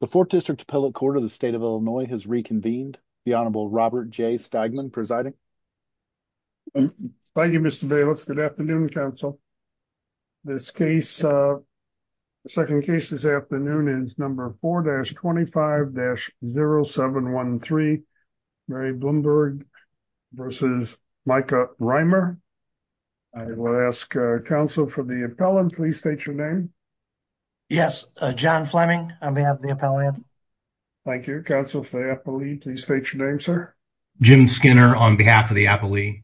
The 4th District Appellate Court of the State of Illinois has reconvened. The Honorable Robert J. Stegman presiding. Thank you, Mr. Bayless. Good afternoon, counsel. This case, the second case this afternoon is number 4-25-0713, Mary Bloomberg versus Micah Reimer. I will ask counsel for the appellant, please state your name. Yes, John Fleming on behalf of the appellant. Thank you. Counsel for the appellant, please state your name, sir. Jim Skinner on behalf of the appellant.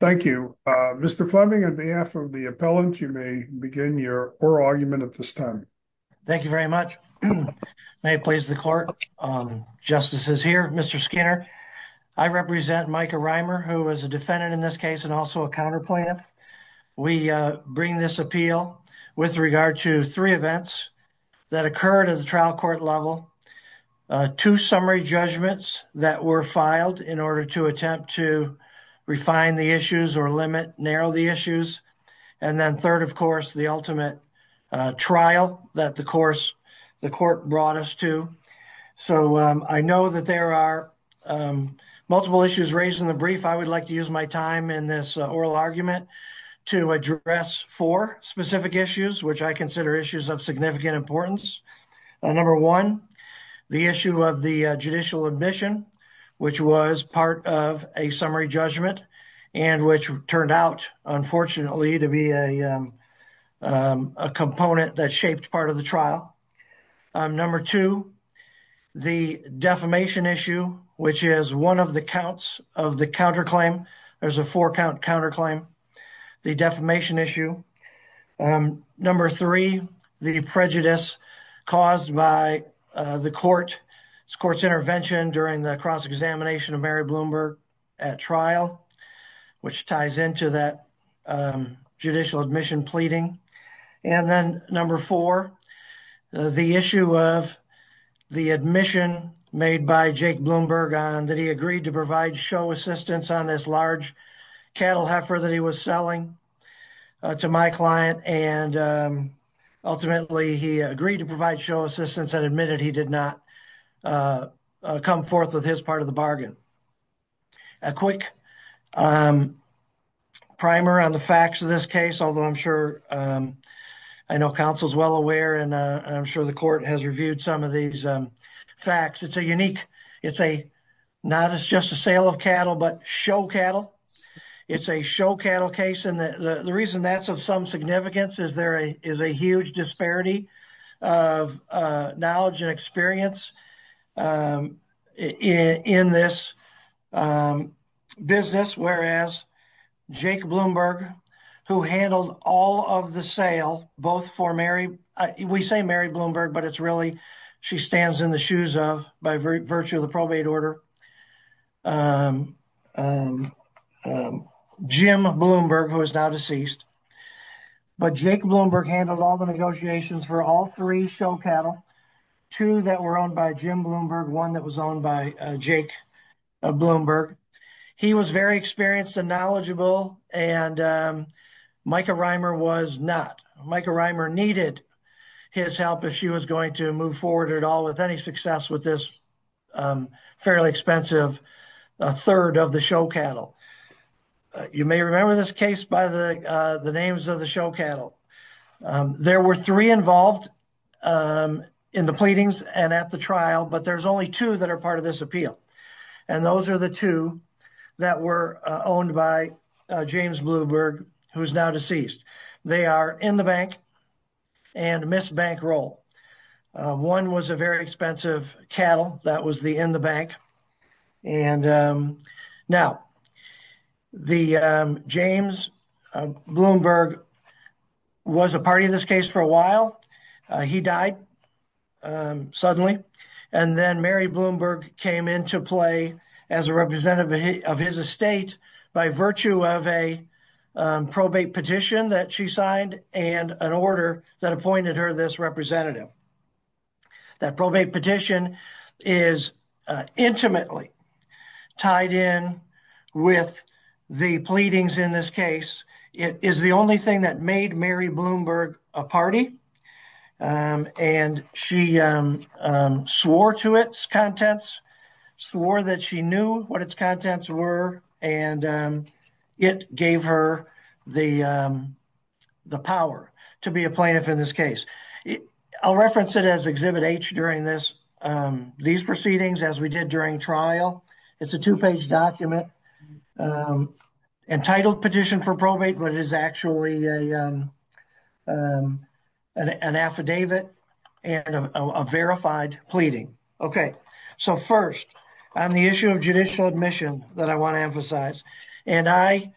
Thank you. Mr. Fleming, on behalf of the appellant, you may begin your oral argument at this time. Thank you very much. May it please the court, justices here, Mr. Skinner, I represent Micah Reimer, who is a defendant in this case and also a counter plaintiff. We bring this appeal with regard to three events that occurred at the trial court level, two summary judgments that were filed in order to attempt to refine the issues or limit, narrow the issues, and then third, of course, the ultimate trial that the court brought us to. So, I know that there are multiple issues raised in the brief. I would like to use my time in this oral argument to address four specific issues, which I consider issues of significant importance. Number one, the issue of the judicial admission, which was part of a summary judgment and which turned out, unfortunately, to be a component that shaped part of the trial. Number two, the defamation issue, which is one of the counts of the counterclaim. There's a four-count counterclaim, the defamation issue. Number three, the prejudice caused by the court's intervention during the cross-examination of Mary Bloomberg at trial, which ties into that judicial admission pleading. And then, number four, the issue of the admission made by Jake Bloomberg on that he agreed to provide show assistance on this large cattle heifer that he was selling to my client. And ultimately, he agreed to provide show assistance and admitted he did not come forth with his part of the bargain. A quick primer on the facts of this case, although I'm sure I know counsel is well aware and I'm sure the court has reviewed some of these facts. It's a unique, it's a not as just a sale of cattle, but show cattle. It's a show cattle case. And the reason that's of some significance is there is a huge disparity of knowledge and experience in this business, whereas Jake Bloomberg, who handled all of the sale, both for Mary, we say Mary Bloomberg, but it's really, she stands in the shoes of, by virtue of the probate order, Jim Bloomberg, who is now deceased. But Jake Bloomberg handled all the negotiations for all three show cattle, two that were owned by Jim Bloomberg, one that was owned by Jake Bloomberg. He was very experienced and knowledgeable, and Micah Reimer was not. Micah Reimer needed his help if she was going to move forward at all with any success with this fairly expensive third of the show cattle. You may remember this case by the names of the show cattle. There were three involved in the pleadings and at the trial, but there's only two that are part of this appeal. And those are the two that were owned by James Bloomberg, who is now deceased. They are in the bank and miss bankroll. One was a very expensive cattle that was the in the bank. And now the James Bloomberg was a party in this case for a while. He died suddenly. And then Mary Bloomberg came into play as a representative of his estate by virtue of a probate petition that she signed and an order that appointed her this representative. That probate petition is intimately tied in with the pleadings in this case. It is the only thing that made Mary Bloomberg a party. And she swore to its contents, swore that she knew what its contents were, and it gave her the power to be a plaintiff in this case. I'll reference it as Exhibit H during these proceedings as we did during trial. It's a two-page document entitled Petition for Probate, but it is actually an affidavit and a verified pleading. Okay, so first, on the issue of judicial admission that I want to emphasize. And I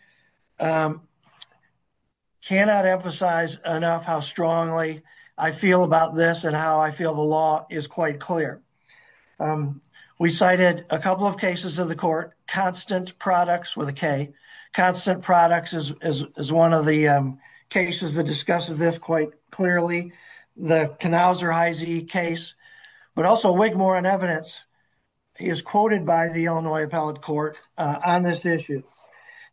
cannot emphasize enough how strongly I feel about this and how I feel the law is quite clear. We cited a couple of cases of the court, Constant Products with a K. Constant Products is one of the cases that discusses this quite clearly. The Knauser Heise case. But also, Wigmore on evidence is quoted by the Illinois Appellate Court on this issue.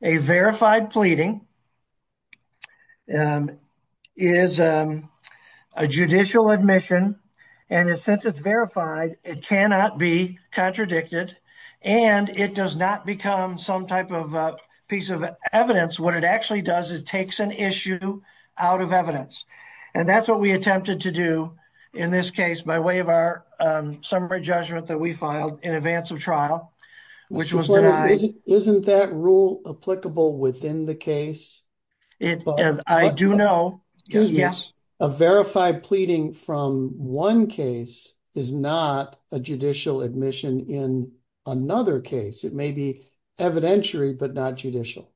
A verified pleading is a judicial admission, and since it's verified, it cannot be contradicted, and it does not become some type of piece of evidence. What it actually does is takes an issue out of evidence. And that's what we attempted to do in this case by way of our summary judgment that we filed in advance of trial, which was denied. Isn't that rule applicable within the case? I do know, yes. A verified pleading from one case is not a judicial admission in another case. It may be evidentiary, but not judicial.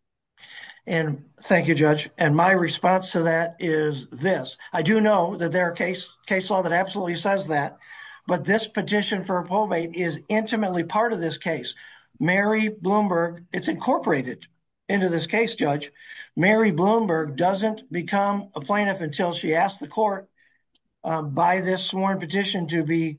And thank you, Judge. And my response to that is this. I do know that there are case law that absolutely says that. But this petition for a probate is intimately part of this case. Mary Bloomberg, it's incorporated into this case, Judge. Mary Bloomberg doesn't become a plaintiff until she asks the court by this sworn petition to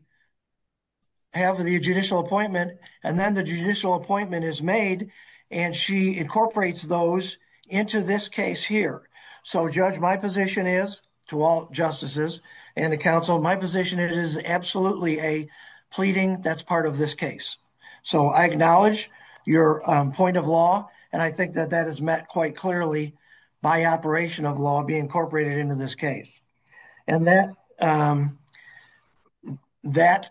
have the judicial appointment. And then the judicial appointment is made. And she incorporates those into this case here. So, Judge, my position is, to all justices and the counsel, my position is it is absolutely a pleading that's part of this case. So, I acknowledge your point of law, and I think that that is met quite clearly by operation of law being incorporated into this case. And that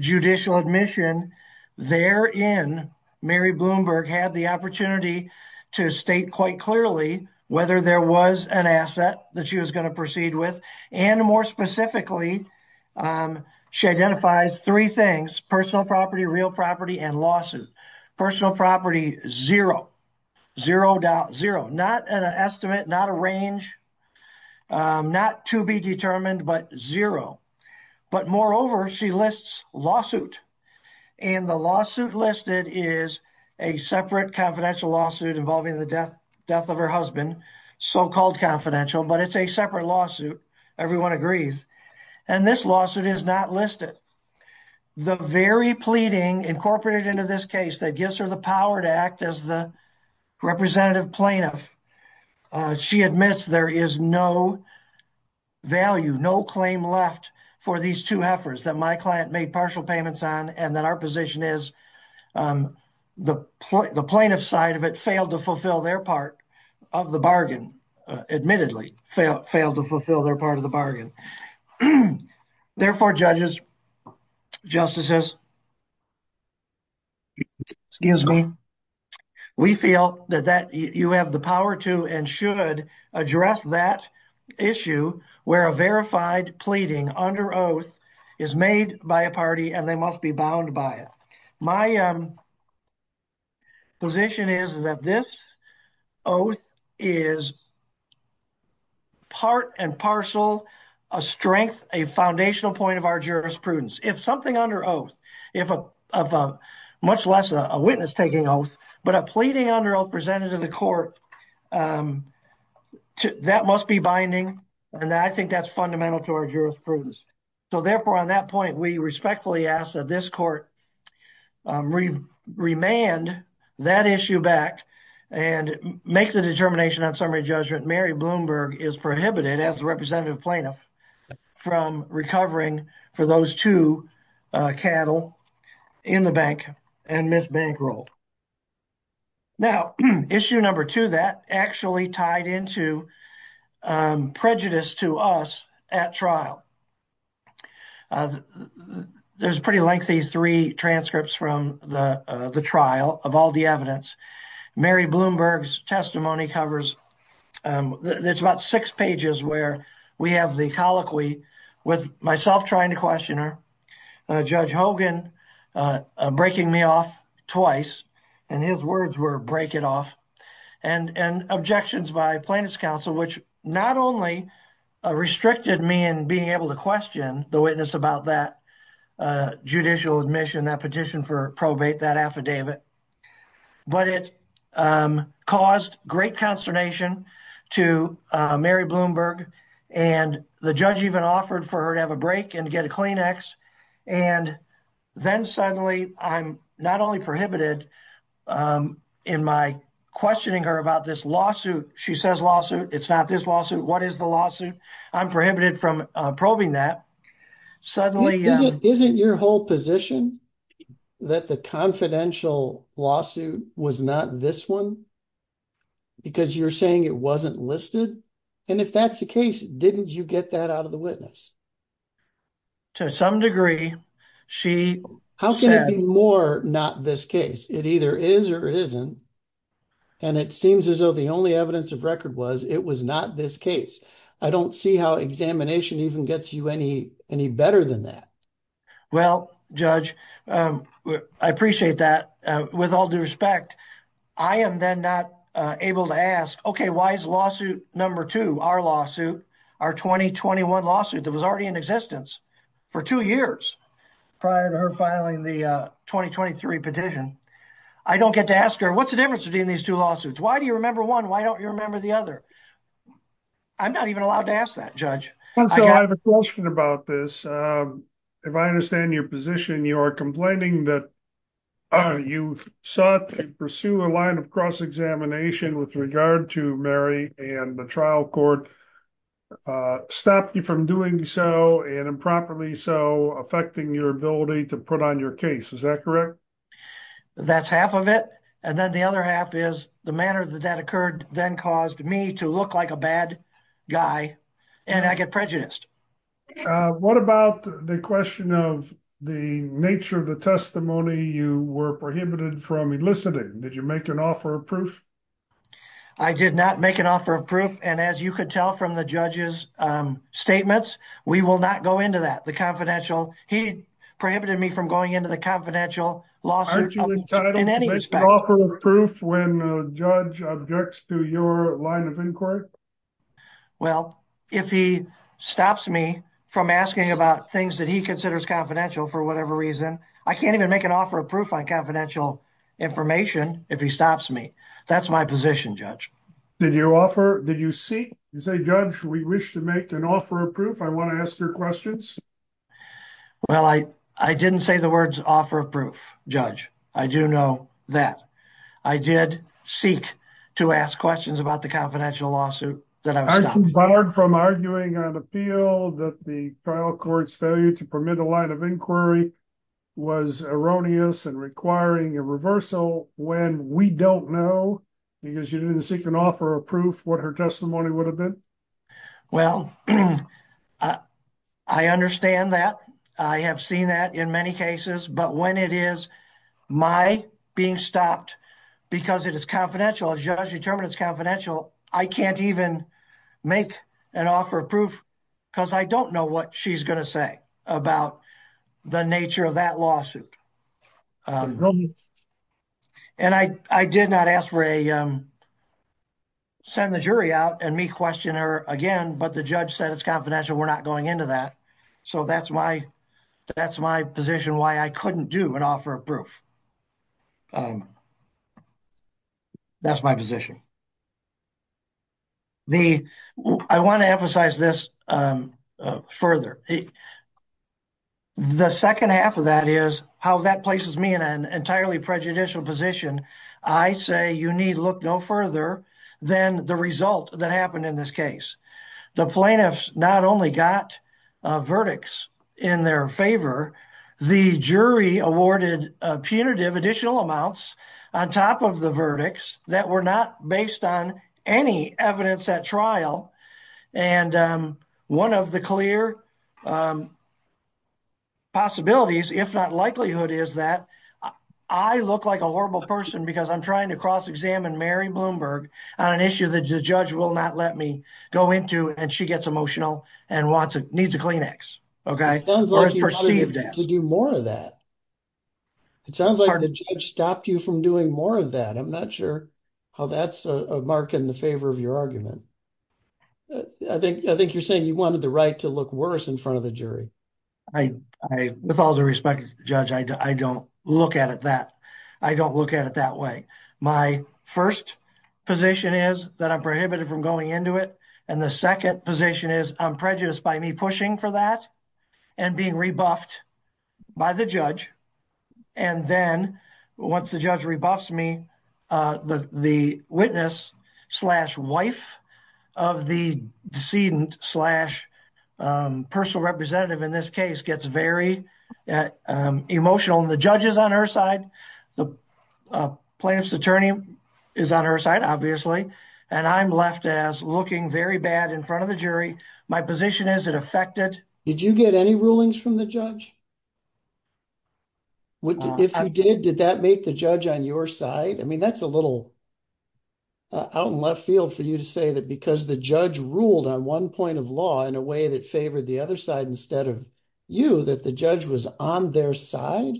judicial admission therein, Mary Bloomberg had the opportunity to state quite clearly whether there was an asset that she was going to proceed with. And more specifically, she identifies three things, personal property, real property, and losses. Personal property, zero. Zero, not an estimate, not a range. Not to be determined, but zero. But moreover, she lists lawsuit. And the lawsuit listed is a separate confidential lawsuit involving the death of her husband, so-called confidential, but it's a separate lawsuit. Everyone agrees. And this lawsuit is not listed. The very pleading incorporated into this case that gives her the power to act as the representative plaintiff, she admits there is no value, no claim left for these two heifers that my client made partial payments on, and that our position is the plaintiff side of it failed to fulfill their part of the bargain, admittedly, failed to fulfill their part of the bargain. Therefore, judges, justices, excuse me, we feel that you have the power to and should address that issue where a verified pleading under oath is made by a party and they must be bound by it. My position is that this oath is part and parcel a strength, a foundational point of our jurisprudence. If something under oath, if a, much less a witness taking oath, but a pleading under oath presented to the court, that must be binding, and I think that's fundamental to our jurisprudence. So therefore, on that point, we respectfully ask that this court remand that issue back and make the determination on summary judgment. Mary Bloomberg is prohibited as the representative plaintiff from recovering for those two cattle in the bank and Ms. Bankroll. Now, issue number two, that actually tied into prejudice to us at trial. There's pretty lengthy three transcripts from the trial of all the evidence. Mary Bloomberg's testimony covers, there's about six pages where we have the colloquy with myself trying to question her, Judge Hogan breaking me off twice, and his words were break it off, and objections by plaintiff's counsel, which not only restricted me in being able to question the witness about that judicial admission, that petition for probate, that affidavit, but it caused great consternation to Mary Bloomberg and the judge even offered for her to have a break and get a Kleenex. And then suddenly I'm not only prohibited in my questioning her about this lawsuit, she says lawsuit, it's not this lawsuit, what is the lawsuit? I'm prohibited from probing that. Suddenly- Isn't your whole position that the confidential lawsuit was not this one? Because you're saying it wasn't listed. And if that's the case, didn't you get that out of the witness? To some degree, she- How can it be more not this case? It either is or it isn't. And it seems as though the only evidence of record was it was not this case. I don't see how examination even gets you any, any better than that. Well, judge, I appreciate that with all due respect. I am then not able to ask, okay, why is lawsuit number two, our lawsuit, our 2021 lawsuit that was already in existence for two years prior to her filing the 2023 petition, I don't get to ask her. What's the difference between these two lawsuits? Why do you remember one? Why don't you remember the other? I'm not even allowed to ask that judge. And so I have a question about this. Um, if I understand your position, you are complaining that you sought to pursue a line of cross-examination with regard to Mary and the trial court, uh, stopped you from doing so and improperly so affecting your ability to put on your case. Is that correct? That's half of it. And then the other half is the manner that that occurred then caused me to look like a bad guy and I get prejudiced. Uh, what about the question of the nature of the testimony you were prohibited from eliciting? Did you make an offer of proof? I did not make an offer of proof. And as you could tell from the judge's, um, statements, we will not go into that. The confidential, he prohibited me from going into the confidential lawsuit in any respect. Did you make an offer of proof when a judge objects to your line of inquiry? Well, if he stops me from asking about things that he considers confidential for whatever reason, I can't even make an offer of proof on confidential information if he stops me. That's my position, judge. Did you offer, did you seek? You say, judge, we wish to make an offer of proof. I want to ask your questions. Well, I, I didn't say the words offer of proof judge. I do know that I did seek to ask questions about the confidential lawsuit that I was stopped from arguing on appeal that the trial court's failure to permit a line of inquiry was erroneous and requiring a reversal when we don't know because you didn't seek an offer of proof, what her testimony would have been. Well, I understand that. I have seen that in many cases, but when it is. My being stopped because it is confidential, a judge determined it's confidential. I can't even make an offer of proof because I don't know what she's going to say about the nature of that lawsuit. And I, I did not ask for a, um, send the jury out and me question her again, but the judge said it's confidential. We're not going into that. So that's my, that's my position. Why I couldn't do an offer of proof. Um, that's my position. The, I want to emphasize this, um, uh, further. The second half of that is how that places me in an entirely prejudicial position, I say you need look no further than the result that happened in this case, the plaintiffs not only got a verdicts in their favor, the jury awarded a punitive additional amounts on top of the verdicts that were not based on any evidence at trial. And, um, one of the clear, um, possibilities, if not likelihood is that I look like a horrible person because I'm trying to cross-examine Mary Bloomberg on an issue that the judge will not let me go into. And she gets emotional and wants, needs a Kleenex. Okay. It sounds like you're trying to do more of that. It sounds like the judge stopped you from doing more of that. I'm not sure how that's a mark in the favor of your argument. I think, I think you're saying you wanted the right to look worse in front of the jury. I, I, with all due respect, judge, I don't look at it that I don't look at it that way. My first position is that I'm prohibited from going into it. And the second position is I'm prejudiced by me pushing for that and being rebuffed by the judge. And then once the judge rebuffs me, uh, the, the witness slash wife of the decedent slash, um, personal representative in this case gets very, uh, um, emotional and the judge is on her side. The plaintiff's attorney is on her side, obviously. And I'm left as looking very bad in front of the jury. My position is it affected. Did you get any rulings from the judge? What if you did, did that make the judge on your side? I mean, that's a little out in left field for you to say that because the judge ruled on one point of law in a way that favored the other side, instead of you, that the judge was on their side.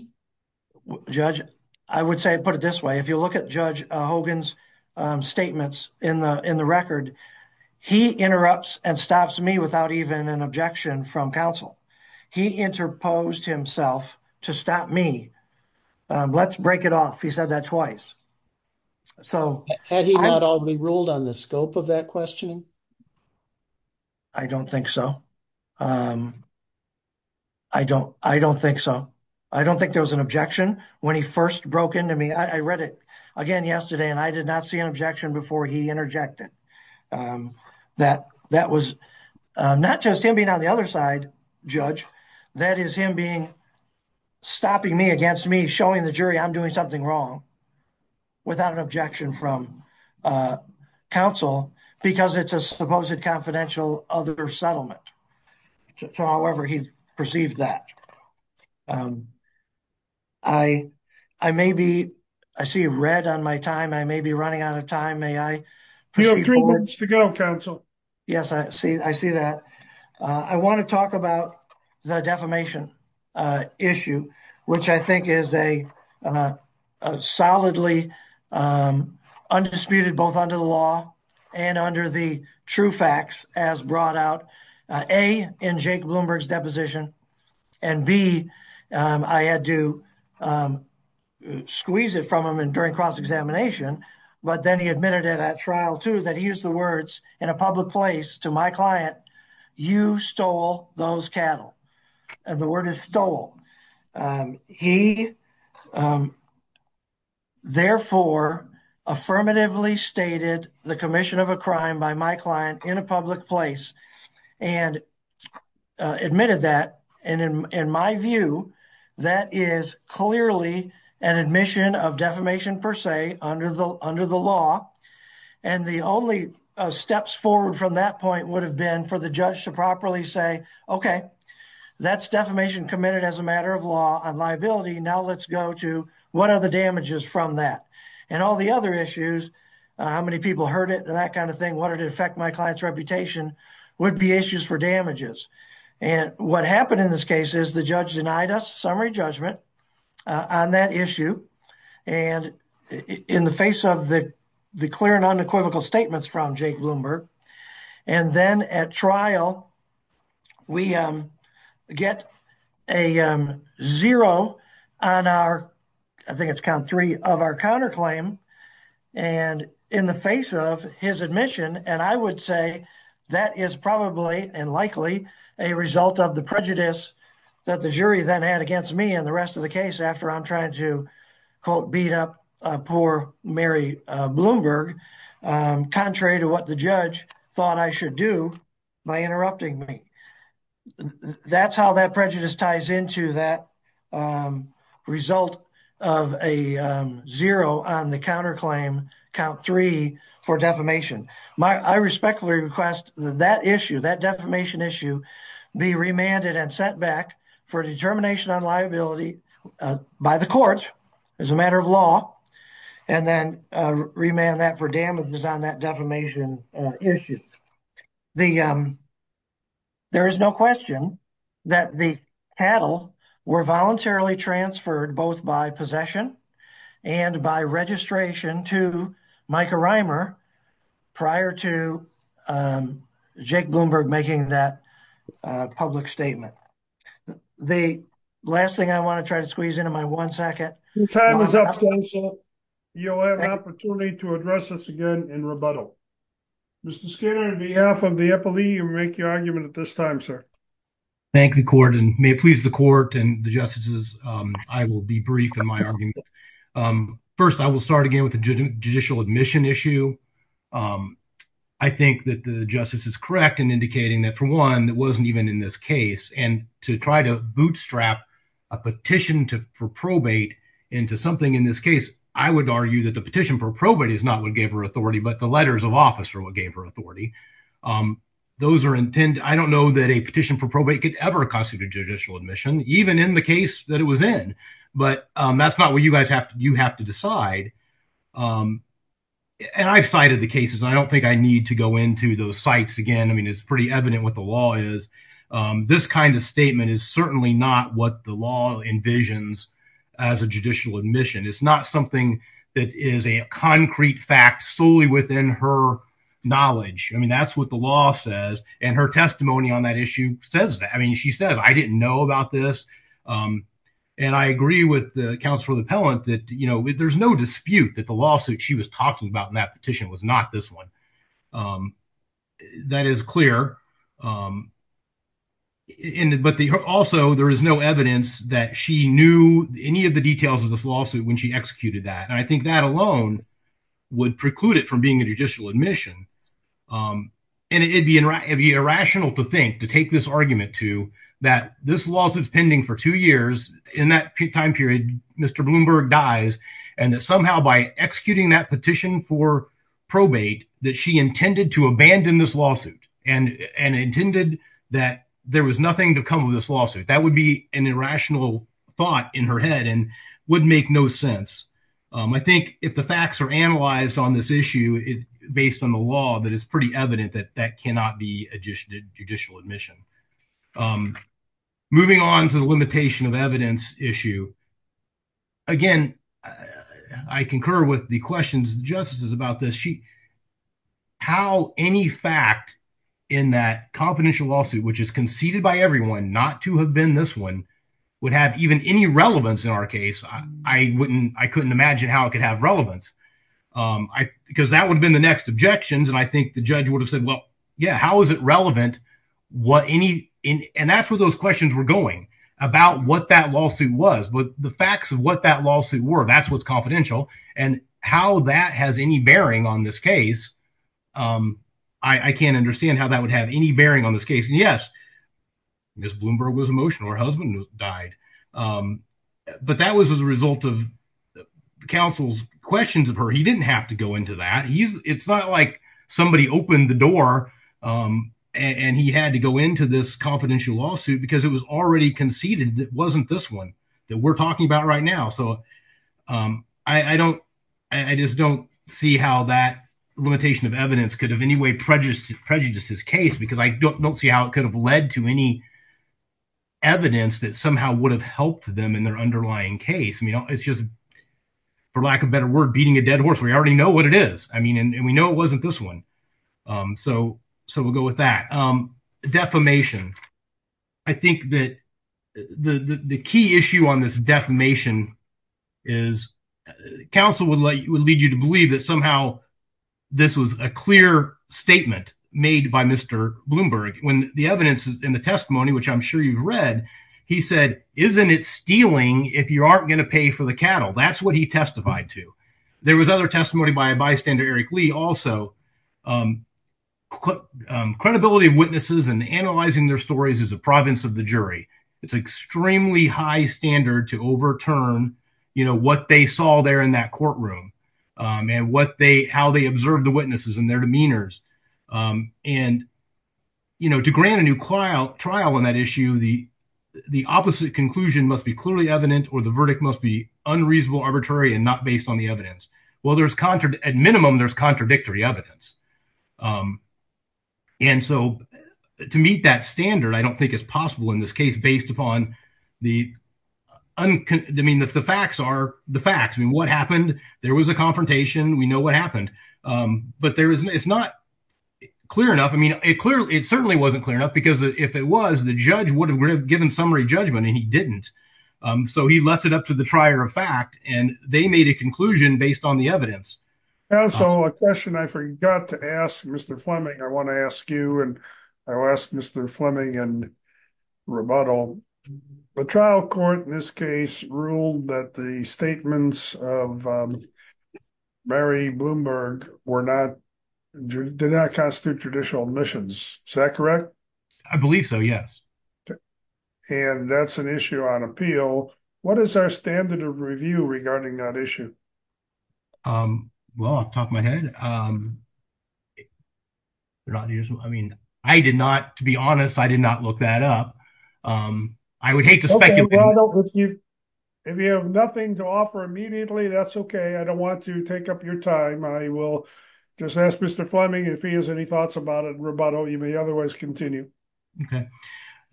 Judge, I would say, put it this way. If you look at judge Hogan's, um, statements in the, in the record, he interrupts and stops me without even an objection from counsel. He interposed himself to stop me. Um, let's break it off. He said that twice. So had he not all be ruled on the scope of that question? I don't think so. Um, I don't, I don't think so. I don't think there was an objection when he first broke into me. I read it again yesterday and I did not see an objection before he interjected, um, that, that was, uh, not just him being on the other side. Judge that is him being stopping me against me, showing the jury I'm doing something wrong without an objection from, uh, counsel because it's a supposed confidential other settlement to however he perceived that. Um, I, I may be, I see red on my time. I may be running out of time. You have three minutes to go counsel. Yes, I see. I see that. Uh, I want to talk about the defamation, uh, issue, which I think is a, uh, a solidly, um, undisputed both under the law and under the true facts as brought out, uh, a in Jake Bloomberg's deposition and B, um, I had to, um, squeeze it from him and during cross-examination, but then he admitted it at trial too, that he used the words in a public place to my client, you stole those cattle and the word is stole. Um, he, um, therefore affirmatively stated the commission of a crime by my client in a public place and, uh, admitted that, and in my view, that is clearly an admission of defamation per se under the, under the law. And the only steps forward from that point would have been for the judge to properly say, okay, that's defamation committed as a matter of law and liability. Now let's go to what are the damages from that and all the other issues. Uh, how many people heard it and that kind of thing. What did it affect? My client's reputation would be issues for damages. And what happened in this case is the judge denied us summary judgment, uh, on that issue. And in the face of the, the clear and unequivocal statements from Jake Bloomberg, and then at trial, we, um, get a, um, zero on our, I think it's count three of our counterclaim and in the face of his admission. And I would say that is probably and likely a result of the prejudice that the jury then had against me and the rest of the case after I'm trying to. Quote, beat up a poor Mary Bloomberg. Um, contrary to what the judge thought I should do by interrupting me. That's how that prejudice ties into that, um, result of a, um, zero on the counterclaim count three for defamation. My, I respectfully request that issue, that defamation issue be remanded and set back for determination on liability, uh, by the court as a matter of law. And then, uh, remand that for damages on that defamation issue. The, um, there is no question that the cattle were voluntarily transferred both by possession and by registration to Micah Reimer prior to, um, Jake Bloomberg making that, uh, public statement. The last thing I want to try to squeeze into my one second, you'll have an opportunity to address this again in rebuttal. Mr. Skinner, on behalf of the FLE, you make your argument at this time, sir. Thank the court and may it please the court and the justices. Um, I will be brief in my, um, first I will start again with the judicial admission issue. Um, I think that the justice is correct in indicating that for one, that wasn't even in this case and to try to bootstrap a petition to, for probate into something in this case, I would argue that the petition for probate is not what gave her authority, but the letters of office are what gave her authority. Um, those are intent. I don't know that a petition for probate could ever constitute a judicial admission, even in the case that it was in, but, um, that's not what you guys have to, you have to decide. Um, and I've cited the cases. I don't think I need to go into those sites again. I mean, it's pretty evident what the law is. Um, this kind of statement is certainly not what the law envisions as a judicial admission. It's not something that is a concrete fact solely within her knowledge. I mean, that's what the law says. And her testimony on that issue says that, I mean, she says, I didn't know about this. Um, and I agree with the counselor, the pellant that, you know, there's no dispute that the lawsuit she was talking about in that petition was not this one. Um, that is clear. Um, and, but also there is no evidence that she knew any of the details of this lawsuit when she executed that. And I think that alone would preclude it from being a judicial admission. Um, and it'd be, it'd be irrational to think, to take this argument to that this lawsuit is pending for two years in that time period, Mr. Bloomberg dies and that somehow by executing that petition for probate, that she intended to abandon this lawsuit and, and intended that there was nothing to come with this lawsuit. That would be an irrational thought in her head and would make no sense. Um, I think if the facts are analyzed on this issue, it based on the law, that it's pretty evident that that cannot be a judicial admission. Um, moving on to the limitation of evidence issue again, I concur with the questions, the justices about this. She, how any fact in that confidential lawsuit, which is conceded by everyone not to have been, this one would have even any relevance in our case. I wouldn't, I couldn't imagine how it could have relevance. Um, I, because that would have been the next objections. And I think the judge would have said, well, yeah, how is it relevant? What any, and that's where those questions were going about what that lawsuit was, but the facts of what that lawsuit were, that's what's and how that has any bearing on this case. Um, I, I can't understand how that would have any bearing on this case. And yes, Ms. Bloomberg was emotional. Her husband died. Um, but that was as a result of counsel's questions of her. He didn't have to go into that. He's it's not like somebody opened the door. Um, and he had to go into this confidential lawsuit because it was already conceded that wasn't this one that we're talking about right now. So, um, I, I don't, I just don't see how that limitation of evidence could have any way prejudiced prejudices case, because I don't, don't see how it could have led to any evidence that somehow would have helped them in their underlying case. I mean, it's just for lack of better word, beating a dead horse. We already know what it is. I mean, and we know it wasn't this one. Um, so, so we'll go with that. Um, defamation. I think that the, the, the key issue on this defamation is counsel would let you, would lead you to believe that somehow this was a clear statement made by Mr. Bloomberg when the evidence in the testimony, which I'm sure you've read, he said, isn't it stealing if you aren't going to pay for the cattle? That's what he testified to. There was other testimony by a bystander, Eric Lee also, um, um, credibility of witnesses and analyzing their stories is a province of the jury. It's extremely high standard to overturn, you know, what they saw there in that courtroom, um, and what they, how they observed the witnesses and their demeanors, um, and you know, to grant a new trial trial on that issue, the, the opposite conclusion must be clearly evident, or the verdict must be unreasonable, arbitrary, and not based on the evidence. Well, there's contra at minimum, there's contradictory evidence. Um, and so to meet that standard, I don't think it's possible in this case, based upon the, I mean, if the facts are the facts, I mean, what happened, there was a confrontation, we know what happened. Um, but there isn't, it's not clear enough. I mean, it clearly, it certainly wasn't clear enough because if it was, the judge would have given summary judgment and he didn't. Um, so he left it up to the trier of fact, and they made a conclusion based on the evidence. And so a question I forgot to ask Mr. Fleming, I want to ask you, and I will ask Mr. Fleming and rebuttal, the trial court in this case ruled that the statements of, um, Mary Bloomberg were not, did not constitute traditional admissions. Is that correct? I believe so. Yes. And that's an issue on appeal. What is our standard of review regarding that issue? Um, well, off the top of my head, um, I mean, I did not, to be honest, I did not look that up. Um, I would hate to speculate. If you have nothing to offer immediately, that's okay. I don't want to take up your time. I will just ask Mr. Fleming if he has any thoughts about it. Rebuttal, you may otherwise continue. Okay.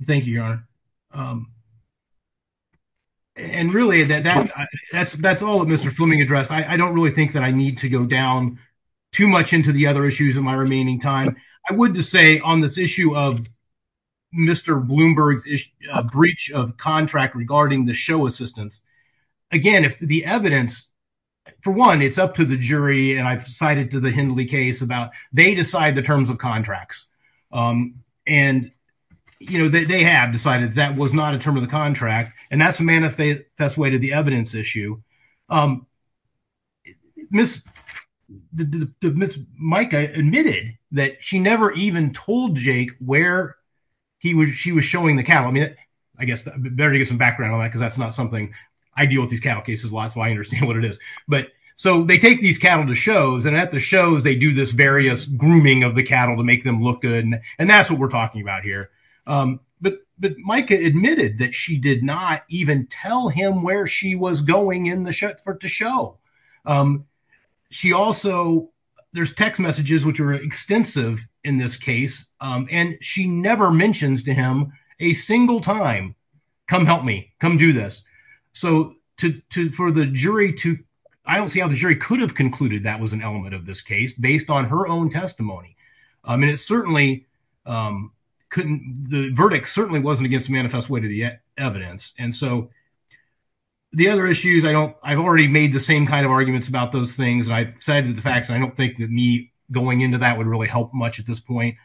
Thank you, Your Honor. Um, and really that that's, that's all that Mr. Fleming addressed. I don't really think that I need to go down too much into the other issues in my remaining time. I would just say on this issue of Mr. Bloomberg's breach of contract regarding the show assistance. Again, if the evidence, for one, it's up to the jury and I've cited to the Hindley case about, they decide the terms of contracts. Um, and you know, they, they have decided that was not a term of the contract. And that's a manifest way to the evidence issue. Um, Ms. The, the, Ms. Micah admitted that she never even told Jake where he was, she was showing the cattle, I mean, I guess I better get some background on that cause that's not something I deal with these cattle cases a lot, so I understand what it is. But so they take these cattle to shows and at the shows, they do this various grooming of the cattle to make them look good. And that's what we're talking about here. Um, but, but Micah admitted that she did not even tell him where she was going in the show to show. Um, she also, there's text messages, which are extensive in this case. Um, and she never mentions to him a single time, come help me come do this. So to, to, for the jury to, I don't see how the jury could have concluded that was an element of this case based on her own testimony. Um, and it certainly, um, couldn't, the verdict certainly wasn't against the manifest way to the evidence. And so the other issues I don't, I've already made the same kind of arguments about those things. And I've said that the facts, I don't think that me going into that would really help much at this point.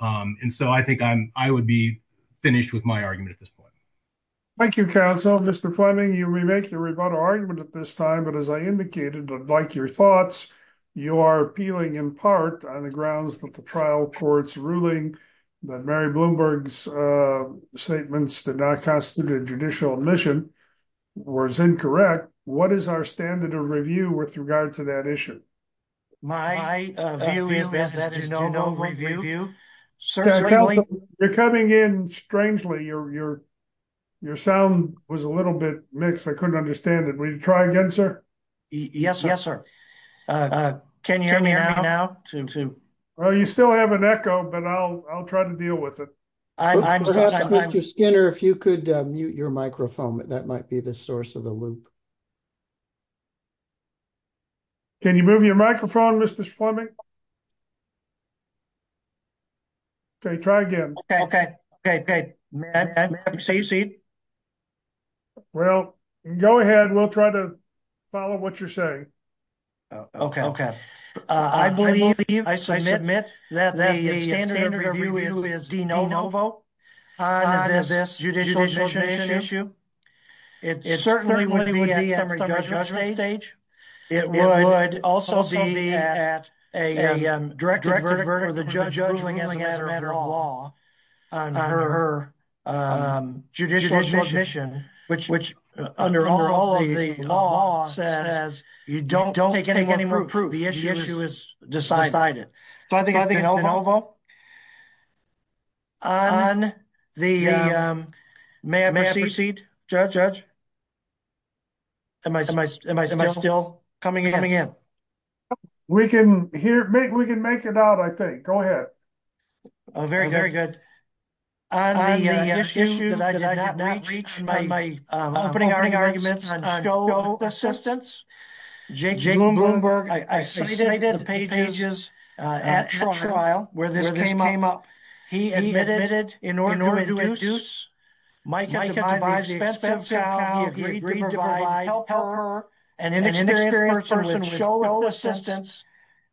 Um, and so I think I'm, I would be finished with my argument at this point. Thank you counsel, Mr. Fleming, you remake your rebuttal argument at this time, but as I like your thoughts, you are appealing in part on the grounds that the trial courts ruling that Mary Bloomberg's, uh, statements did not constitute a judicial admission was incorrect. What is our standard of review with regard to that issue? My review, sir, you're coming in. Strangely, your, your, your sound was a little bit mixed. I couldn't understand it. Will you try again, sir? Yes, yes, sir. Uh, can you hear me now? Well, you still have an echo, but I'll, I'll try to deal with it. I'm just Skinner. If you could mute your microphone, that might be the source of the loop. Can you move your microphone? Fleming. Okay. Try again. Okay. Okay. Matt, say you see. Well, go ahead. We'll try to follow what you're saying. Oh, okay. Okay. Uh, I believe that you, I submit that the standard of review is DeNovo. Uh, does this judicial admission issue? It certainly wouldn't be at the judgment stage. It would also be at a, um, directed verdict or the judge ruling as a matter of law, uh, her, her, um, judicial admission, which, which, uh, under all of the law says you don't take any more proof. The issue is decided. So I think on the, um, may I proceed judge? Am I, am I, am I still coming in? We can hear me. We can make it out. I think, go ahead. Oh, very good. On the issue that I did not reach in my opening arguments on show assistance, Jake Bloomberg, I cited the pages at trial where this came up. He admitted in order to induce Mike to buy the expensive cow, he agreed to provide help her and an inexperienced person with no assistance.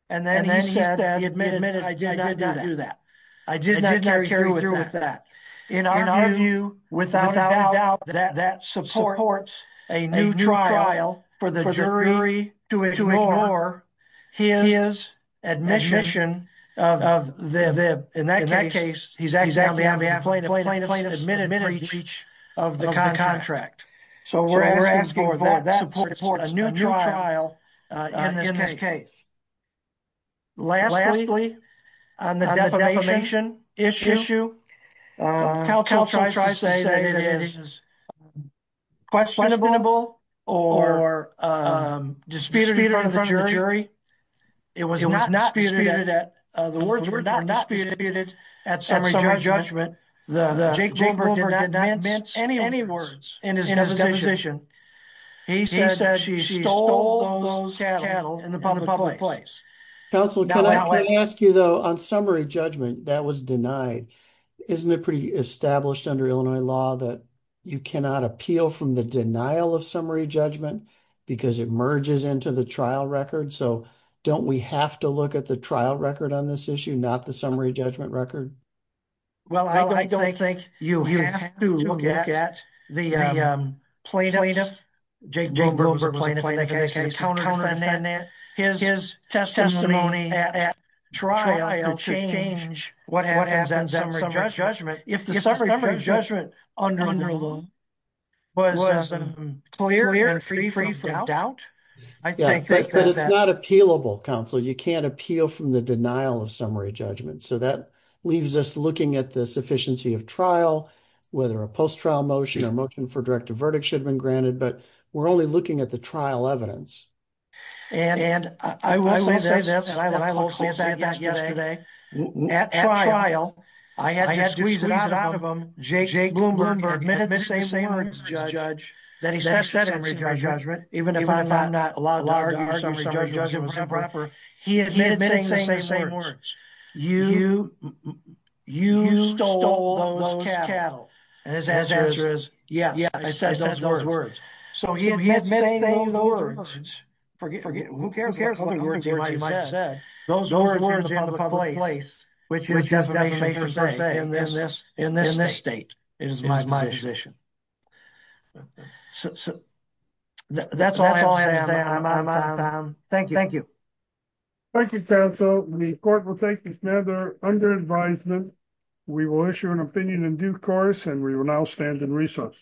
And then he said that he admitted, I did not do that. I did not carry through with that in our view, without a doubt that that supports a new trial for the jury to ignore his admission of the, the, in that case, he's acting on behalf of plaintiff plaintiff plaintiff's admitted breach of the contract. So we're asking for that support, a new trial, uh, in this case, Lastly, on the defamation issue, uh, CalTel tries to say that it is questionable or, um, disputed in front of the jury. It was not disputed at, uh, the words were not disputed at summary judgment. The Jake Bloomberg did not mince any words in his deposition. He said that she stole those cattle in the public place. Counsel, can I ask you though, on summary judgment that was denied, isn't it pretty established under Illinois law that you cannot appeal from the denial of summary judgment because it merges into the trial record. So don't we have to look at the trial record on this issue, not the summary judgment record? Well, I don't think you have to look at the, um, plaintiff Jake Bloomberg's testimony at trial to change what happens at summary judgment. If the summary judgment was clear and free from doubt. I think that it's not appealable counsel. You can't appeal from the denial of summary judgment. So that leaves us looking at the sufficiency of trial, whether a post-trial motion or motion for direct to verdict should have been granted, but we're only looking at the trial evidence. And I will say this, and I looked closely at that yesterday, at trial, I had to squeeze it out of him, Jake Bloomberg admitted the same words to his judge that he said at summary judgment, even if I'm not allowed to argue summary judgment was improper, he admitted saying the same words. You, you stole those cattle. And his answer is, yes, I said those words. So he admitted saying those words, forget it. Who cares what other words he might have said. Those words are in the public place, which has a major say in this, in this state. It is my position. So that's all I have to say on my time. Thank you. Thank you counsel. The court will take another under advisement. We will issue an opinion in due course, and we will now stand in recess.